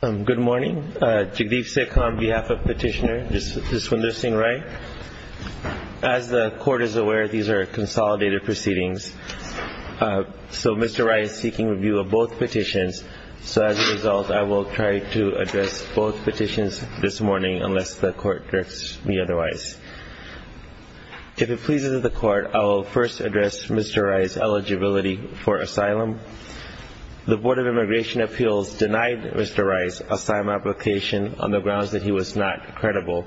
Good morning. Jagdeep Sikh on behalf of Petitioner, this is Swindar Singh Rai. As the Court is aware, these are consolidated proceedings. So Mr. Rai is seeking review of both petitions. So as a result, I will try to address both petitions this morning unless the Court directs me otherwise. If it pleases the Court, I will first address Mr. Rai's eligibility for asylum. The Board of Immigration Appeals denied Mr. Rai's asylum application on the grounds that he was not credible.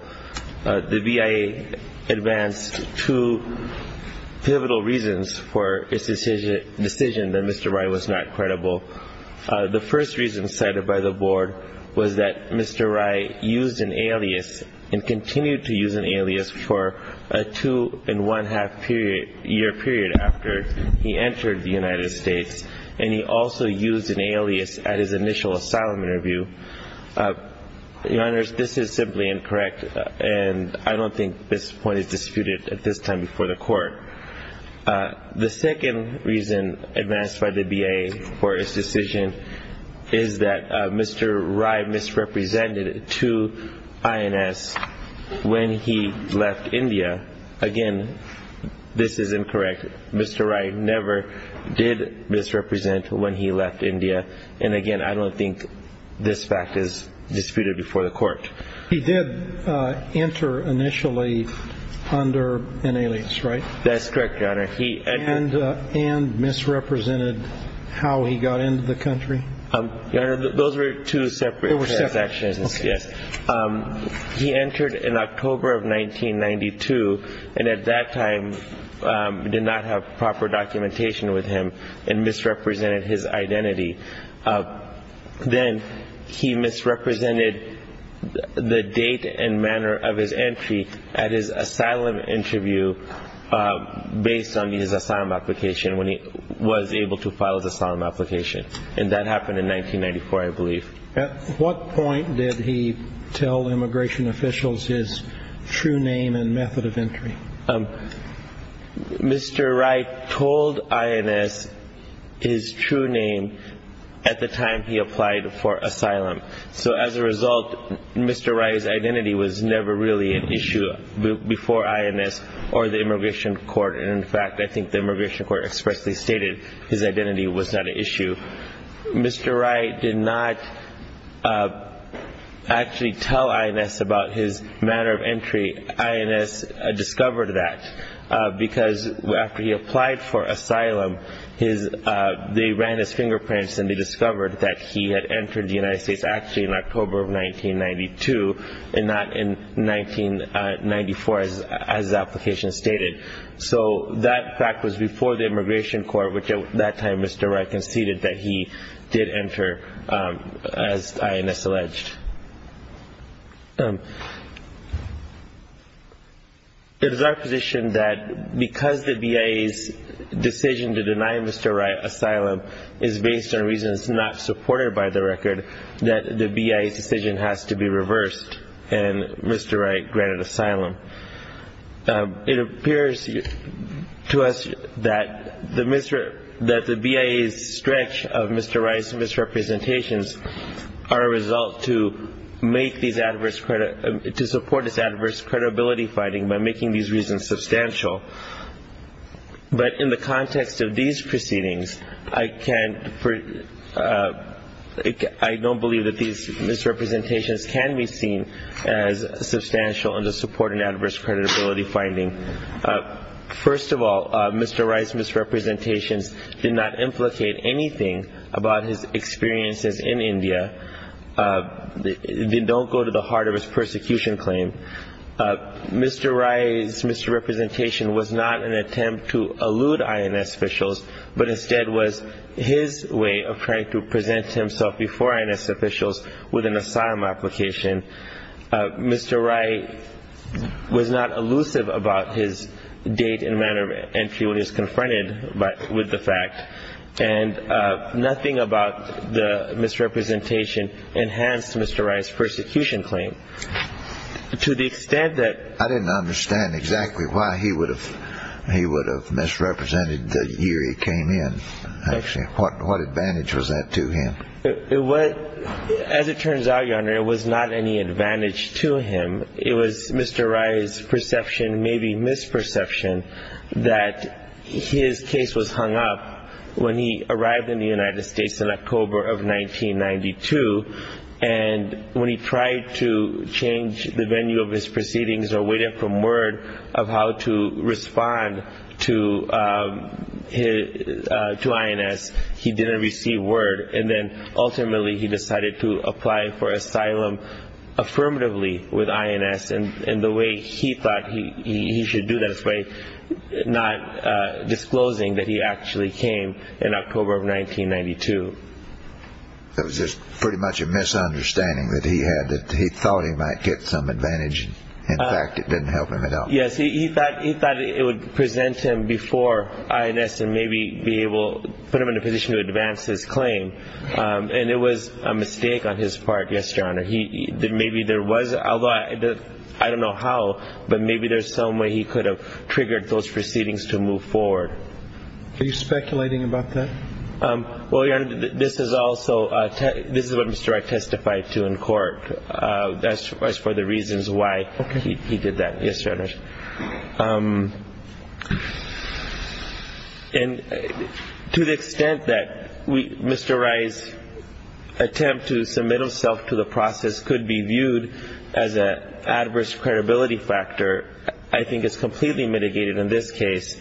The BIA advanced two pivotal reasons for its decision that Mr. Rai was not credible. The first reason cited by the Board was that Mr. Rai used an alias and continued to use an alias for a two-and-one-half year period after he entered the United States, and he also used an alias at his initial asylum interview. Your Honors, this is simply incorrect, and I don't think this point is disputed at this time before the Court. The second reason advanced by the BIA for its decision is that Mr. Rai misrepresented to INS when he left India. Again, this is incorrect. Mr. Rai never did misrepresent when he left India, and again, I don't think this fact is disputed before the Court. He did enter initially under an alias, right? That's correct, Your Honor. And misrepresented how he got into the country? Your Honor, those were two separate transactions, yes. He entered in October of 1992 and at that time did not have proper documentation with him and misrepresented his identity. Then he misrepresented the date and manner of his entry at his asylum interview based on his asylum application when he was able to file his asylum application, and that happened in 1994, I believe. At what point did he tell immigration officials his true name and method of entry? Mr. Rai told INS his true name at the time he applied for asylum. So as a result, Mr. Rai's identity was never really an issue before INS or the Immigration Court, and in fact, I think the Immigration Court expressly stated his identity was not an issue. Mr. Rai did not actually tell INS about his manner of entry. INS discovered that because after he applied for asylum, they ran his fingerprints and they discovered that he had entered the United States actually in October of 1992 and not in 1994 as the application stated. So that fact was before the Immigration Court, which at that time Mr. Rai conceded that he did enter as INS alleged. It is our position that because the BIA's decision to deny Mr. Rai asylum is based on reasons not supported by the record, that the BIA's decision has to be reversed and Mr. Rai granted asylum. It appears to us that the BIA's stretch of Mr. Rai's misrepresentations are a result to support his adverse credibility finding by making these reasons substantial. But in the context of these proceedings, I don't believe that these misrepresentations can be seen as substantial and to support an adverse credibility finding. First of all, Mr. Rai's misrepresentations did not implicate anything about his experiences in India. They don't go to the heart of his persecution claim. Mr. Rai's misrepresentation was not an attempt to elude INS officials, but instead was his way of trying to present himself before INS officials with an asylum application. Mr. Rai was not elusive about his date and manner of entry when he was confronted with the fact and nothing about the misrepresentation enhanced Mr. Rai's persecution claim to the extent that I didn't understand exactly why he would have misrepresented the year he came in, actually. What advantage was that to him? As it turns out, Your Honor, it was not any advantage to him. It was Mr. Rai's perception, maybe misperception, that his case was hung up when he arrived in the United States in October of 1992, and when he tried to change the venue of his proceedings or waited for word of how to respond to INS, he didn't receive word. And then, ultimately, he decided to apply for asylum affirmatively with INS. And the way he thought he should do that was by not disclosing that he actually came in October of 1992. It was just pretty much a misunderstanding that he had that he thought he might get some advantage. In fact, it didn't help him at all. Yes, he thought it would present him before INS and maybe put him in a position to advance his claim. And it was a mistake on his part, yes, Your Honor. Although I don't know how, but maybe there's some way he could have triggered those proceedings to move forward. Are you speculating about that? Well, Your Honor, this is what Mr. Rai testified to in court as far as the reasons why he did that. Yes, Your Honor. And to the extent that Mr. Rai's attempt to submit himself to the process could be viewed as an adverse credibility factor, I think it's completely mitigated in this case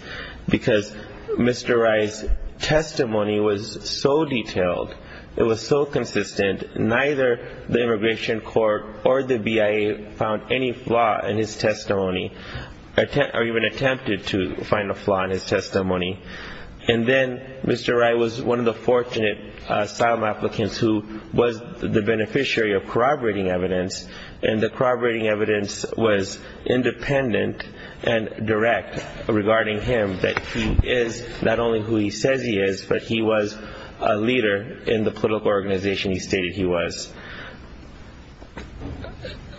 because Mr. Rai's testimony was so detailed, it was so consistent, neither the Immigration Court or the BIA found any flaw in his testimony or even attempted to find a flaw in his testimony. And then Mr. Rai was one of the fortunate asylum applicants who was the beneficiary of corroborating evidence, and the corroborating evidence was independent and direct regarding him, that he is not only who he says he is, but he was a leader in the political organization he stated he was.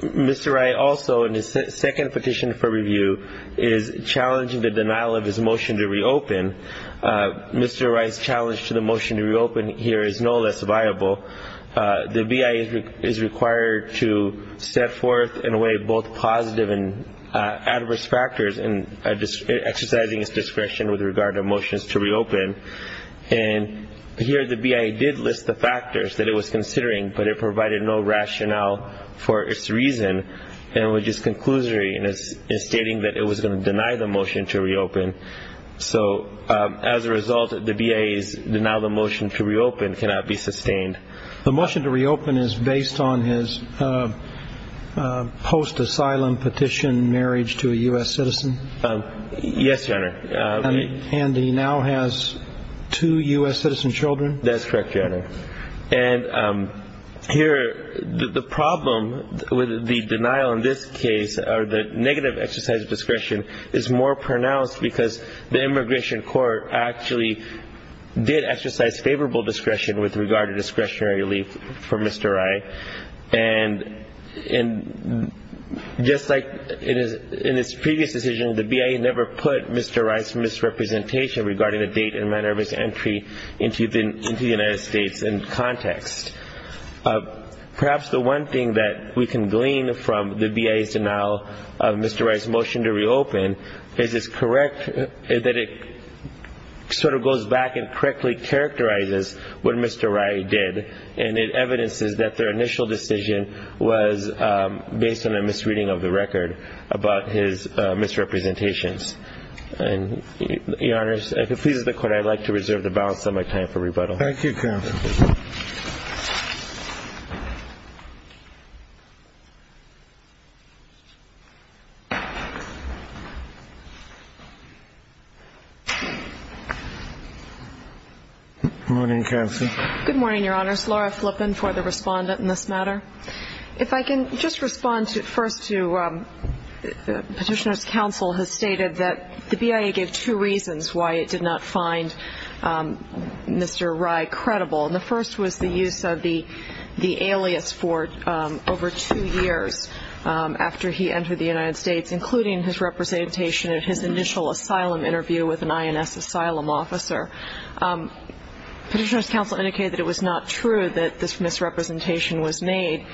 Mr. Rai also, in his second petition for review, is challenging the denial of his motion to reopen. Mr. Rai's challenge to the motion to reopen here is no less viable. The BIA is required to set forth in a way both positive and adverse factors in exercising its discretion with regard to motions to reopen. And here the BIA did list the factors that it was considering, but it provided no rationale for its reason, which is conclusory in stating that it was going to deny the motion to reopen. So as a result, the BIA's denial of the motion to reopen cannot be sustained. The motion to reopen is based on his post-asylum petition marriage to a U.S. citizen? Yes, Your Honor. And he now has two U.S. citizen children? That's correct, Your Honor. And here the problem with the denial in this case, or the negative exercise of discretion, is more pronounced because the immigration court actually did exercise favorable discretion with regard to discretionary relief for Mr. Rai. And just like in his previous decision, the BIA never put Mr. Rai's misrepresentation regarding the date and manner of his entry into the United States in context. Perhaps the one thing that we can glean from the BIA's denial of Mr. Rai's motion to reopen is that it sort of goes back and correctly characterizes what Mr. Rai did, and it evidences that their initial decision was based on a misreading of the record about his misrepresentations. And, Your Honor, if it pleases the Court, I'd like to reserve the balance of my time for rebuttal. Thank you, counsel. Good morning, counsel. Good morning, Your Honors. Laura Flippen for the respondent in this matter. If I can just respond first to petitioner's counsel has stated that the BIA gave two reasons why it did not find Mr. Rai credible. And the first was the use of the alias for over two years after he entered the United States, including his representation at his initial asylum interview with an INS asylum officer. Petitioner's counsel indicated that it was not true that this misrepresentation was made.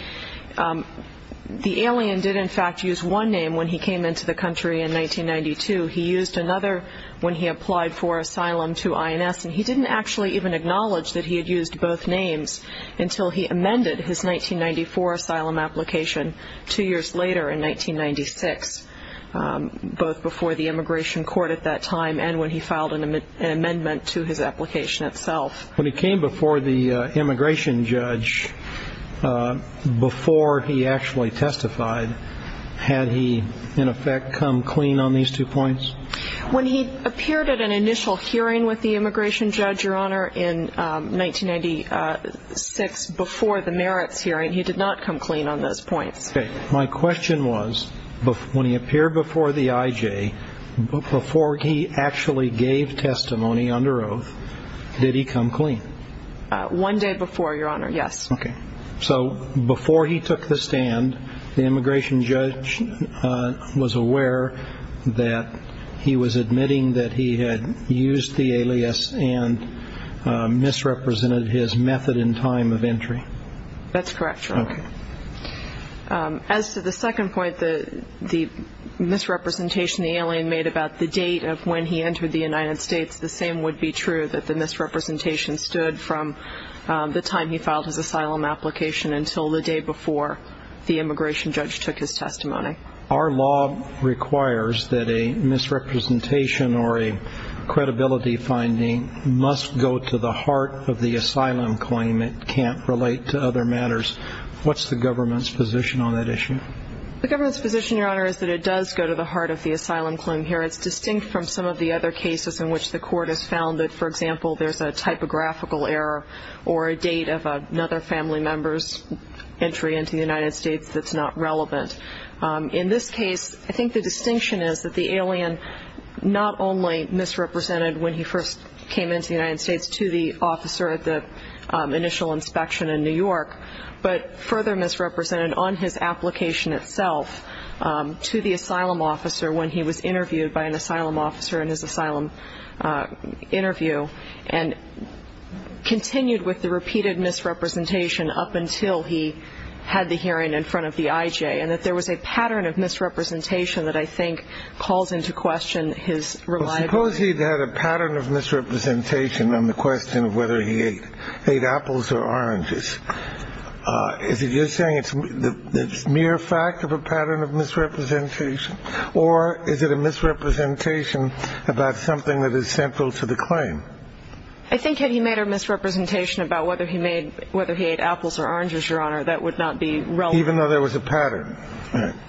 The alien did, in fact, use one name when he came into the country in 1992. He used another when he applied for asylum to INS, and he didn't actually even acknowledge that he had used both names until he amended his 1994 asylum application two years later in 1996, both before the immigration court at that time and when he filed an amendment to his application itself. When he came before the immigration judge, before he actually testified, had he, in effect, come clean on these two points? When he appeared at an initial hearing with the immigration judge, Your Honor, in 1996, before the merits hearing, he did not come clean on those points. Okay. My question was, when he appeared before the IJ, before he actually gave testimony under oath, did he come clean? One day before, Your Honor, yes. Okay. So before he took the stand, the immigration judge was aware that he was admitting that he had used the alias and misrepresented his method and time of entry? That's correct, Your Honor. Okay. As to the second point, the misrepresentation the alien made about the date of when he entered the United States, the same would be true that the misrepresentation stood from the time he filed his asylum application until the day before the immigration judge took his testimony. Our law requires that a misrepresentation or a credibility finding must go to the heart of the asylum claim. It can't relate to other matters. What's the government's position on that issue? The government's position, Your Honor, is that it does go to the heart of the asylum claim here. It's distinct from some of the other cases in which the court has found that, for example, there's a typographical error or a date of another family member's entry into the United States that's not relevant. In this case, I think the distinction is that the alien not only misrepresented when he first came into the United States to the officer at the initial inspection in New York, but further misrepresented on his application itself to the asylum officer when he was interviewed by an asylum officer in his asylum interview and continued with the repeated misrepresentation up until he had the hearing in front of the IJ, and that there was a pattern of misrepresentation that I think calls into question his reliability. Suppose he'd had a pattern of misrepresentation on the question of whether he ate apples or oranges. Is it just saying it's mere fact of a pattern of misrepresentation, or is it a misrepresentation about something that is central to the claim? I think had he made a misrepresentation about whether he ate apples or oranges, Your Honor, that would not be relevant. Even though there was a pattern.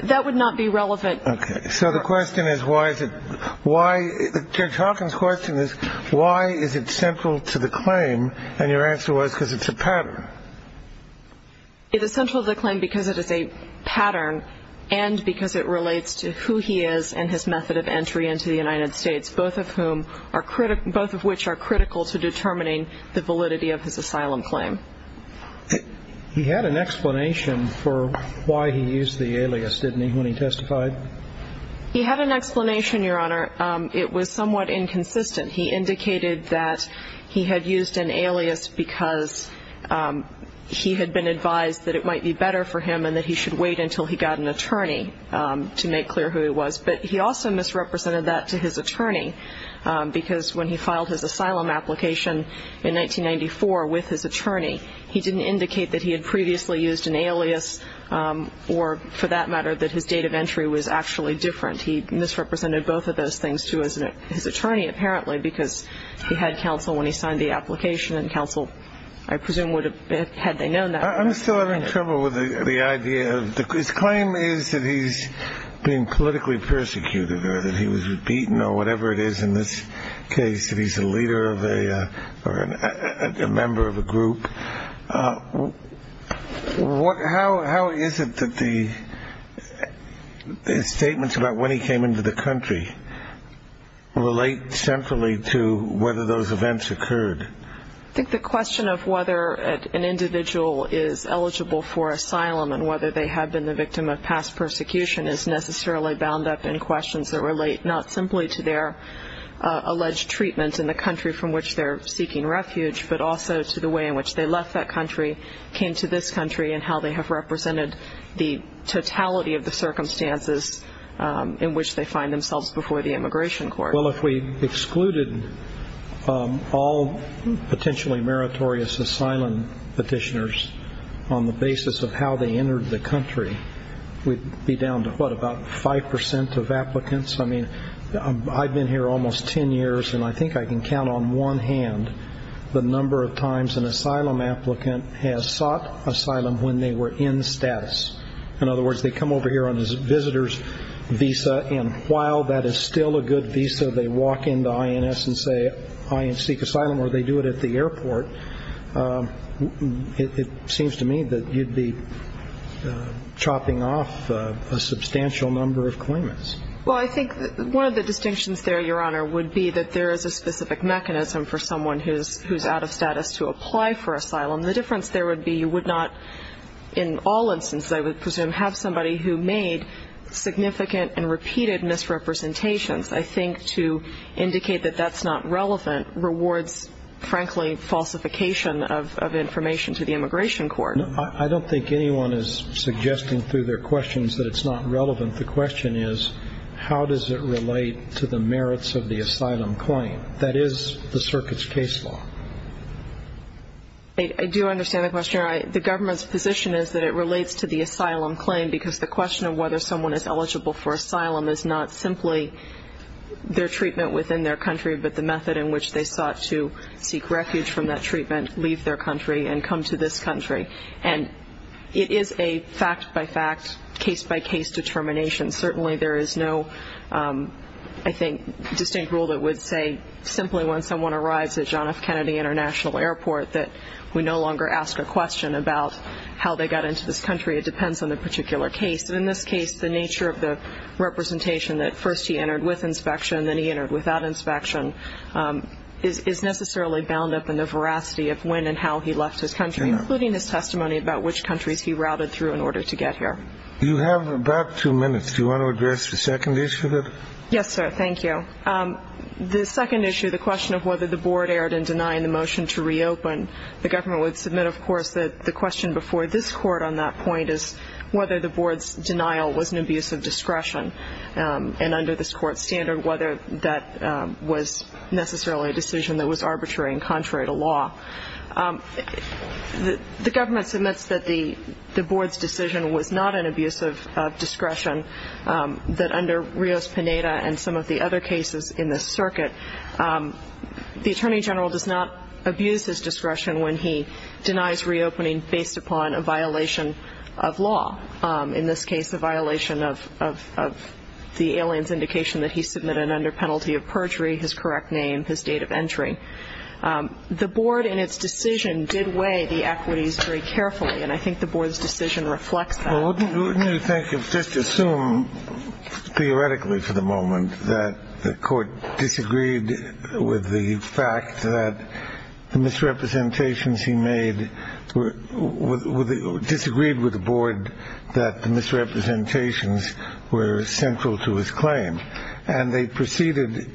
That would not be relevant. Okay. So the question is why is it – why – Judge Hawkins' question is why is it central to the claim, and your answer was because it's a pattern. It is central to the claim because it is a pattern and because it relates to who he is and his method of entry into the United States, both of which are critical to determining the validity of his asylum claim. He had an explanation for why he used the alias, didn't he, when he testified? He had an explanation, Your Honor. It was somewhat inconsistent. He indicated that he had used an alias because he had been advised that it might be better for him and that he should wait until he got an attorney to make clear who he was. But he also misrepresented that to his attorney because when he filed his asylum application in 1994 with his attorney, he didn't indicate that he had previously used an alias or, for that matter, that his date of entry was actually different. He misrepresented both of those things to his attorney, apparently, because he had counsel when he signed the application, and counsel, I presume, would have – had they known that. I'm still having trouble with the idea of – his claim is that he's being politically persecuted or that he was beaten or whatever it is in this case, that he's a leader of a – or a member of a group. How is it that the statements about when he came into the country relate centrally to whether those events occurred? I think the question of whether an individual is eligible for asylum and whether they have been the victim of past persecution is necessarily bound up in questions that relate not simply to their alleged treatment in the country from which they're seeking refuge, but also to the way in which they left that country, came to this country, and how they have represented the totality of the circumstances in which they find themselves before the immigration court. Well, if we excluded all potentially meritorious asylum petitioners on the basis of how they entered the country, we'd be down to, what, about 5% of applicants? I mean, I've been here almost 10 years, and I think I can count on one hand the number of times an asylum applicant has sought asylum when they were in status. In other words, they come over here on a visitor's visa, and while that is still a good visa, they walk into INS and say, I seek asylum, or they do it at the airport. It seems to me that you'd be chopping off a substantial number of claimants. Well, I think one of the distinctions there, Your Honor, would be that there is a specific mechanism for someone who's out of status to apply for asylum. The difference there would be you would not in all instances, I would presume, have somebody who made significant and repeated misrepresentations. I think to indicate that that's not relevant rewards, frankly, falsification of information to the immigration court. I don't think anyone is suggesting through their questions that it's not relevant. The question is, how does it relate to the merits of the asylum claim? That is the circuit's case law. I do understand the question, Your Honor. The government's position is that it relates to the asylum claim because the question of whether someone is eligible for asylum is not simply their treatment within their country, but the method in which they sought to seek refuge from that treatment, leave their country, and come to this country. And it is a fact-by-fact, case-by-case determination. Certainly there is no, I think, distinct rule that would say simply when someone arrives at John F. Kennedy International Airport that we no longer ask a question about how they got into this country. It depends on the particular case. In this case, the nature of the representation that first he entered with inspection, then he entered without inspection, is necessarily bound up in the veracity of when and how he left his country, including his testimony about which countries he routed through in order to get here. You have about two minutes. Do you want to address the second issue? Yes, sir. Thank you. The second issue, the question of whether the board erred in denying the motion to reopen, the government would submit, of course, that the question before this court on that point is whether the board's denial was an abuse of discretion. And under this court's standard, whether that was necessarily a decision that was arbitrary and contrary to law. The government submits that the board's decision was not an abuse of discretion, that under Rios-Pineda and some of the other cases in this circuit, the attorney general does not abuse his discretion when he denies reopening based upon a violation of law. In this case, a violation of the alien's indication that he submitted under penalty of perjury his correct name, his date of entry. The board in its decision did weigh the equities very carefully, and I think the board's decision reflects that. Wouldn't you think, just assume theoretically for the moment, that the court disagreed with the fact that the misrepresentations he made, disagreed with the board that the misrepresentations were central to his claim? And they proceeded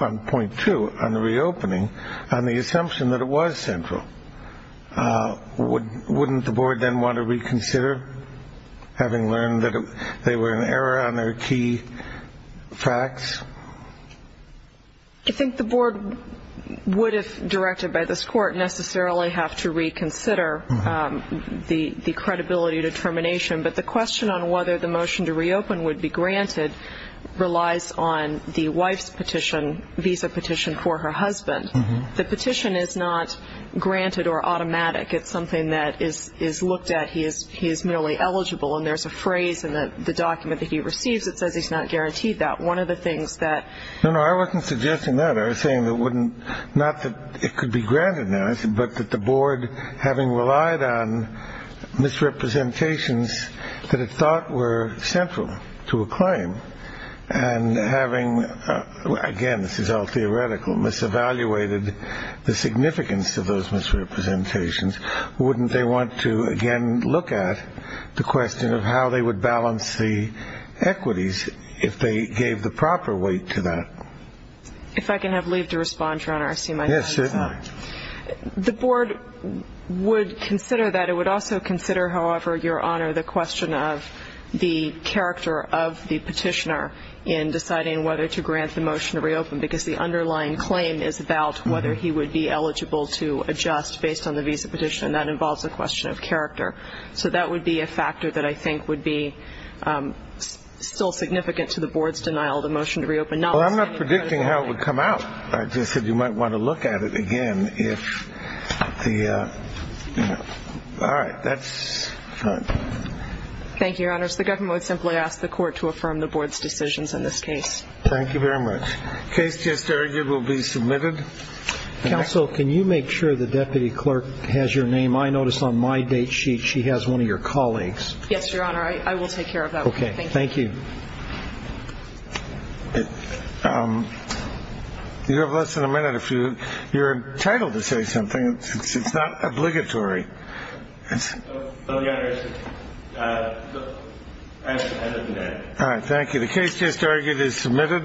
on point two, on the reopening, on the assumption that it was central. Wouldn't the board then want to reconsider, having learned that they were in error on their key facts? I think the board would, if directed by this court, necessarily have to reconsider the credibility determination. But the question on whether the motion to reopen would be granted relies on the wife's petition, visa petition for her husband. The petition is not granted or automatic. It's something that is looked at. He is merely eligible, and there's a phrase in the document that he receives that says he's not guaranteed that. One of the things that ---- No, no, I wasn't suggesting that. I was saying that it wouldn't ñ not that it could be granted now, but that the board, having relied on misrepresentations that it thought were central to a claim, and having, again, this is all theoretical, mis-evaluated the significance of those misrepresentations, wouldn't they want to again look at the question of how they would balance the equities if they gave the proper weight to that? If I can have leave to respond, Your Honor, I see my time is up. Yes. The board would consider that. the character of the petitioner in deciding whether to grant the motion to reopen because the underlying claim is about whether he would be eligible to adjust based on the visa petition, and that involves a question of character. So that would be a factor that I think would be still significant to the board's denial of the motion to reopen. Well, I'm not predicting how it would come out. I just said you might want to look at it again if the ñ all right. That's fine. Thank you, Your Honors. The government would simply ask the court to affirm the board's decisions in this case. Thank you very much. Case just argued will be submitted. Counsel, can you make sure the deputy clerk has your name? I notice on my date sheet she has one of your colleagues. Yes, Your Honor. I will take care of that. Okay. Thank you. Do you have less than a minute? You're entitled to say something. It's not obligatory. No, Your Honor. That's the end of the day. All right. Thank you. The case just argued is submitted.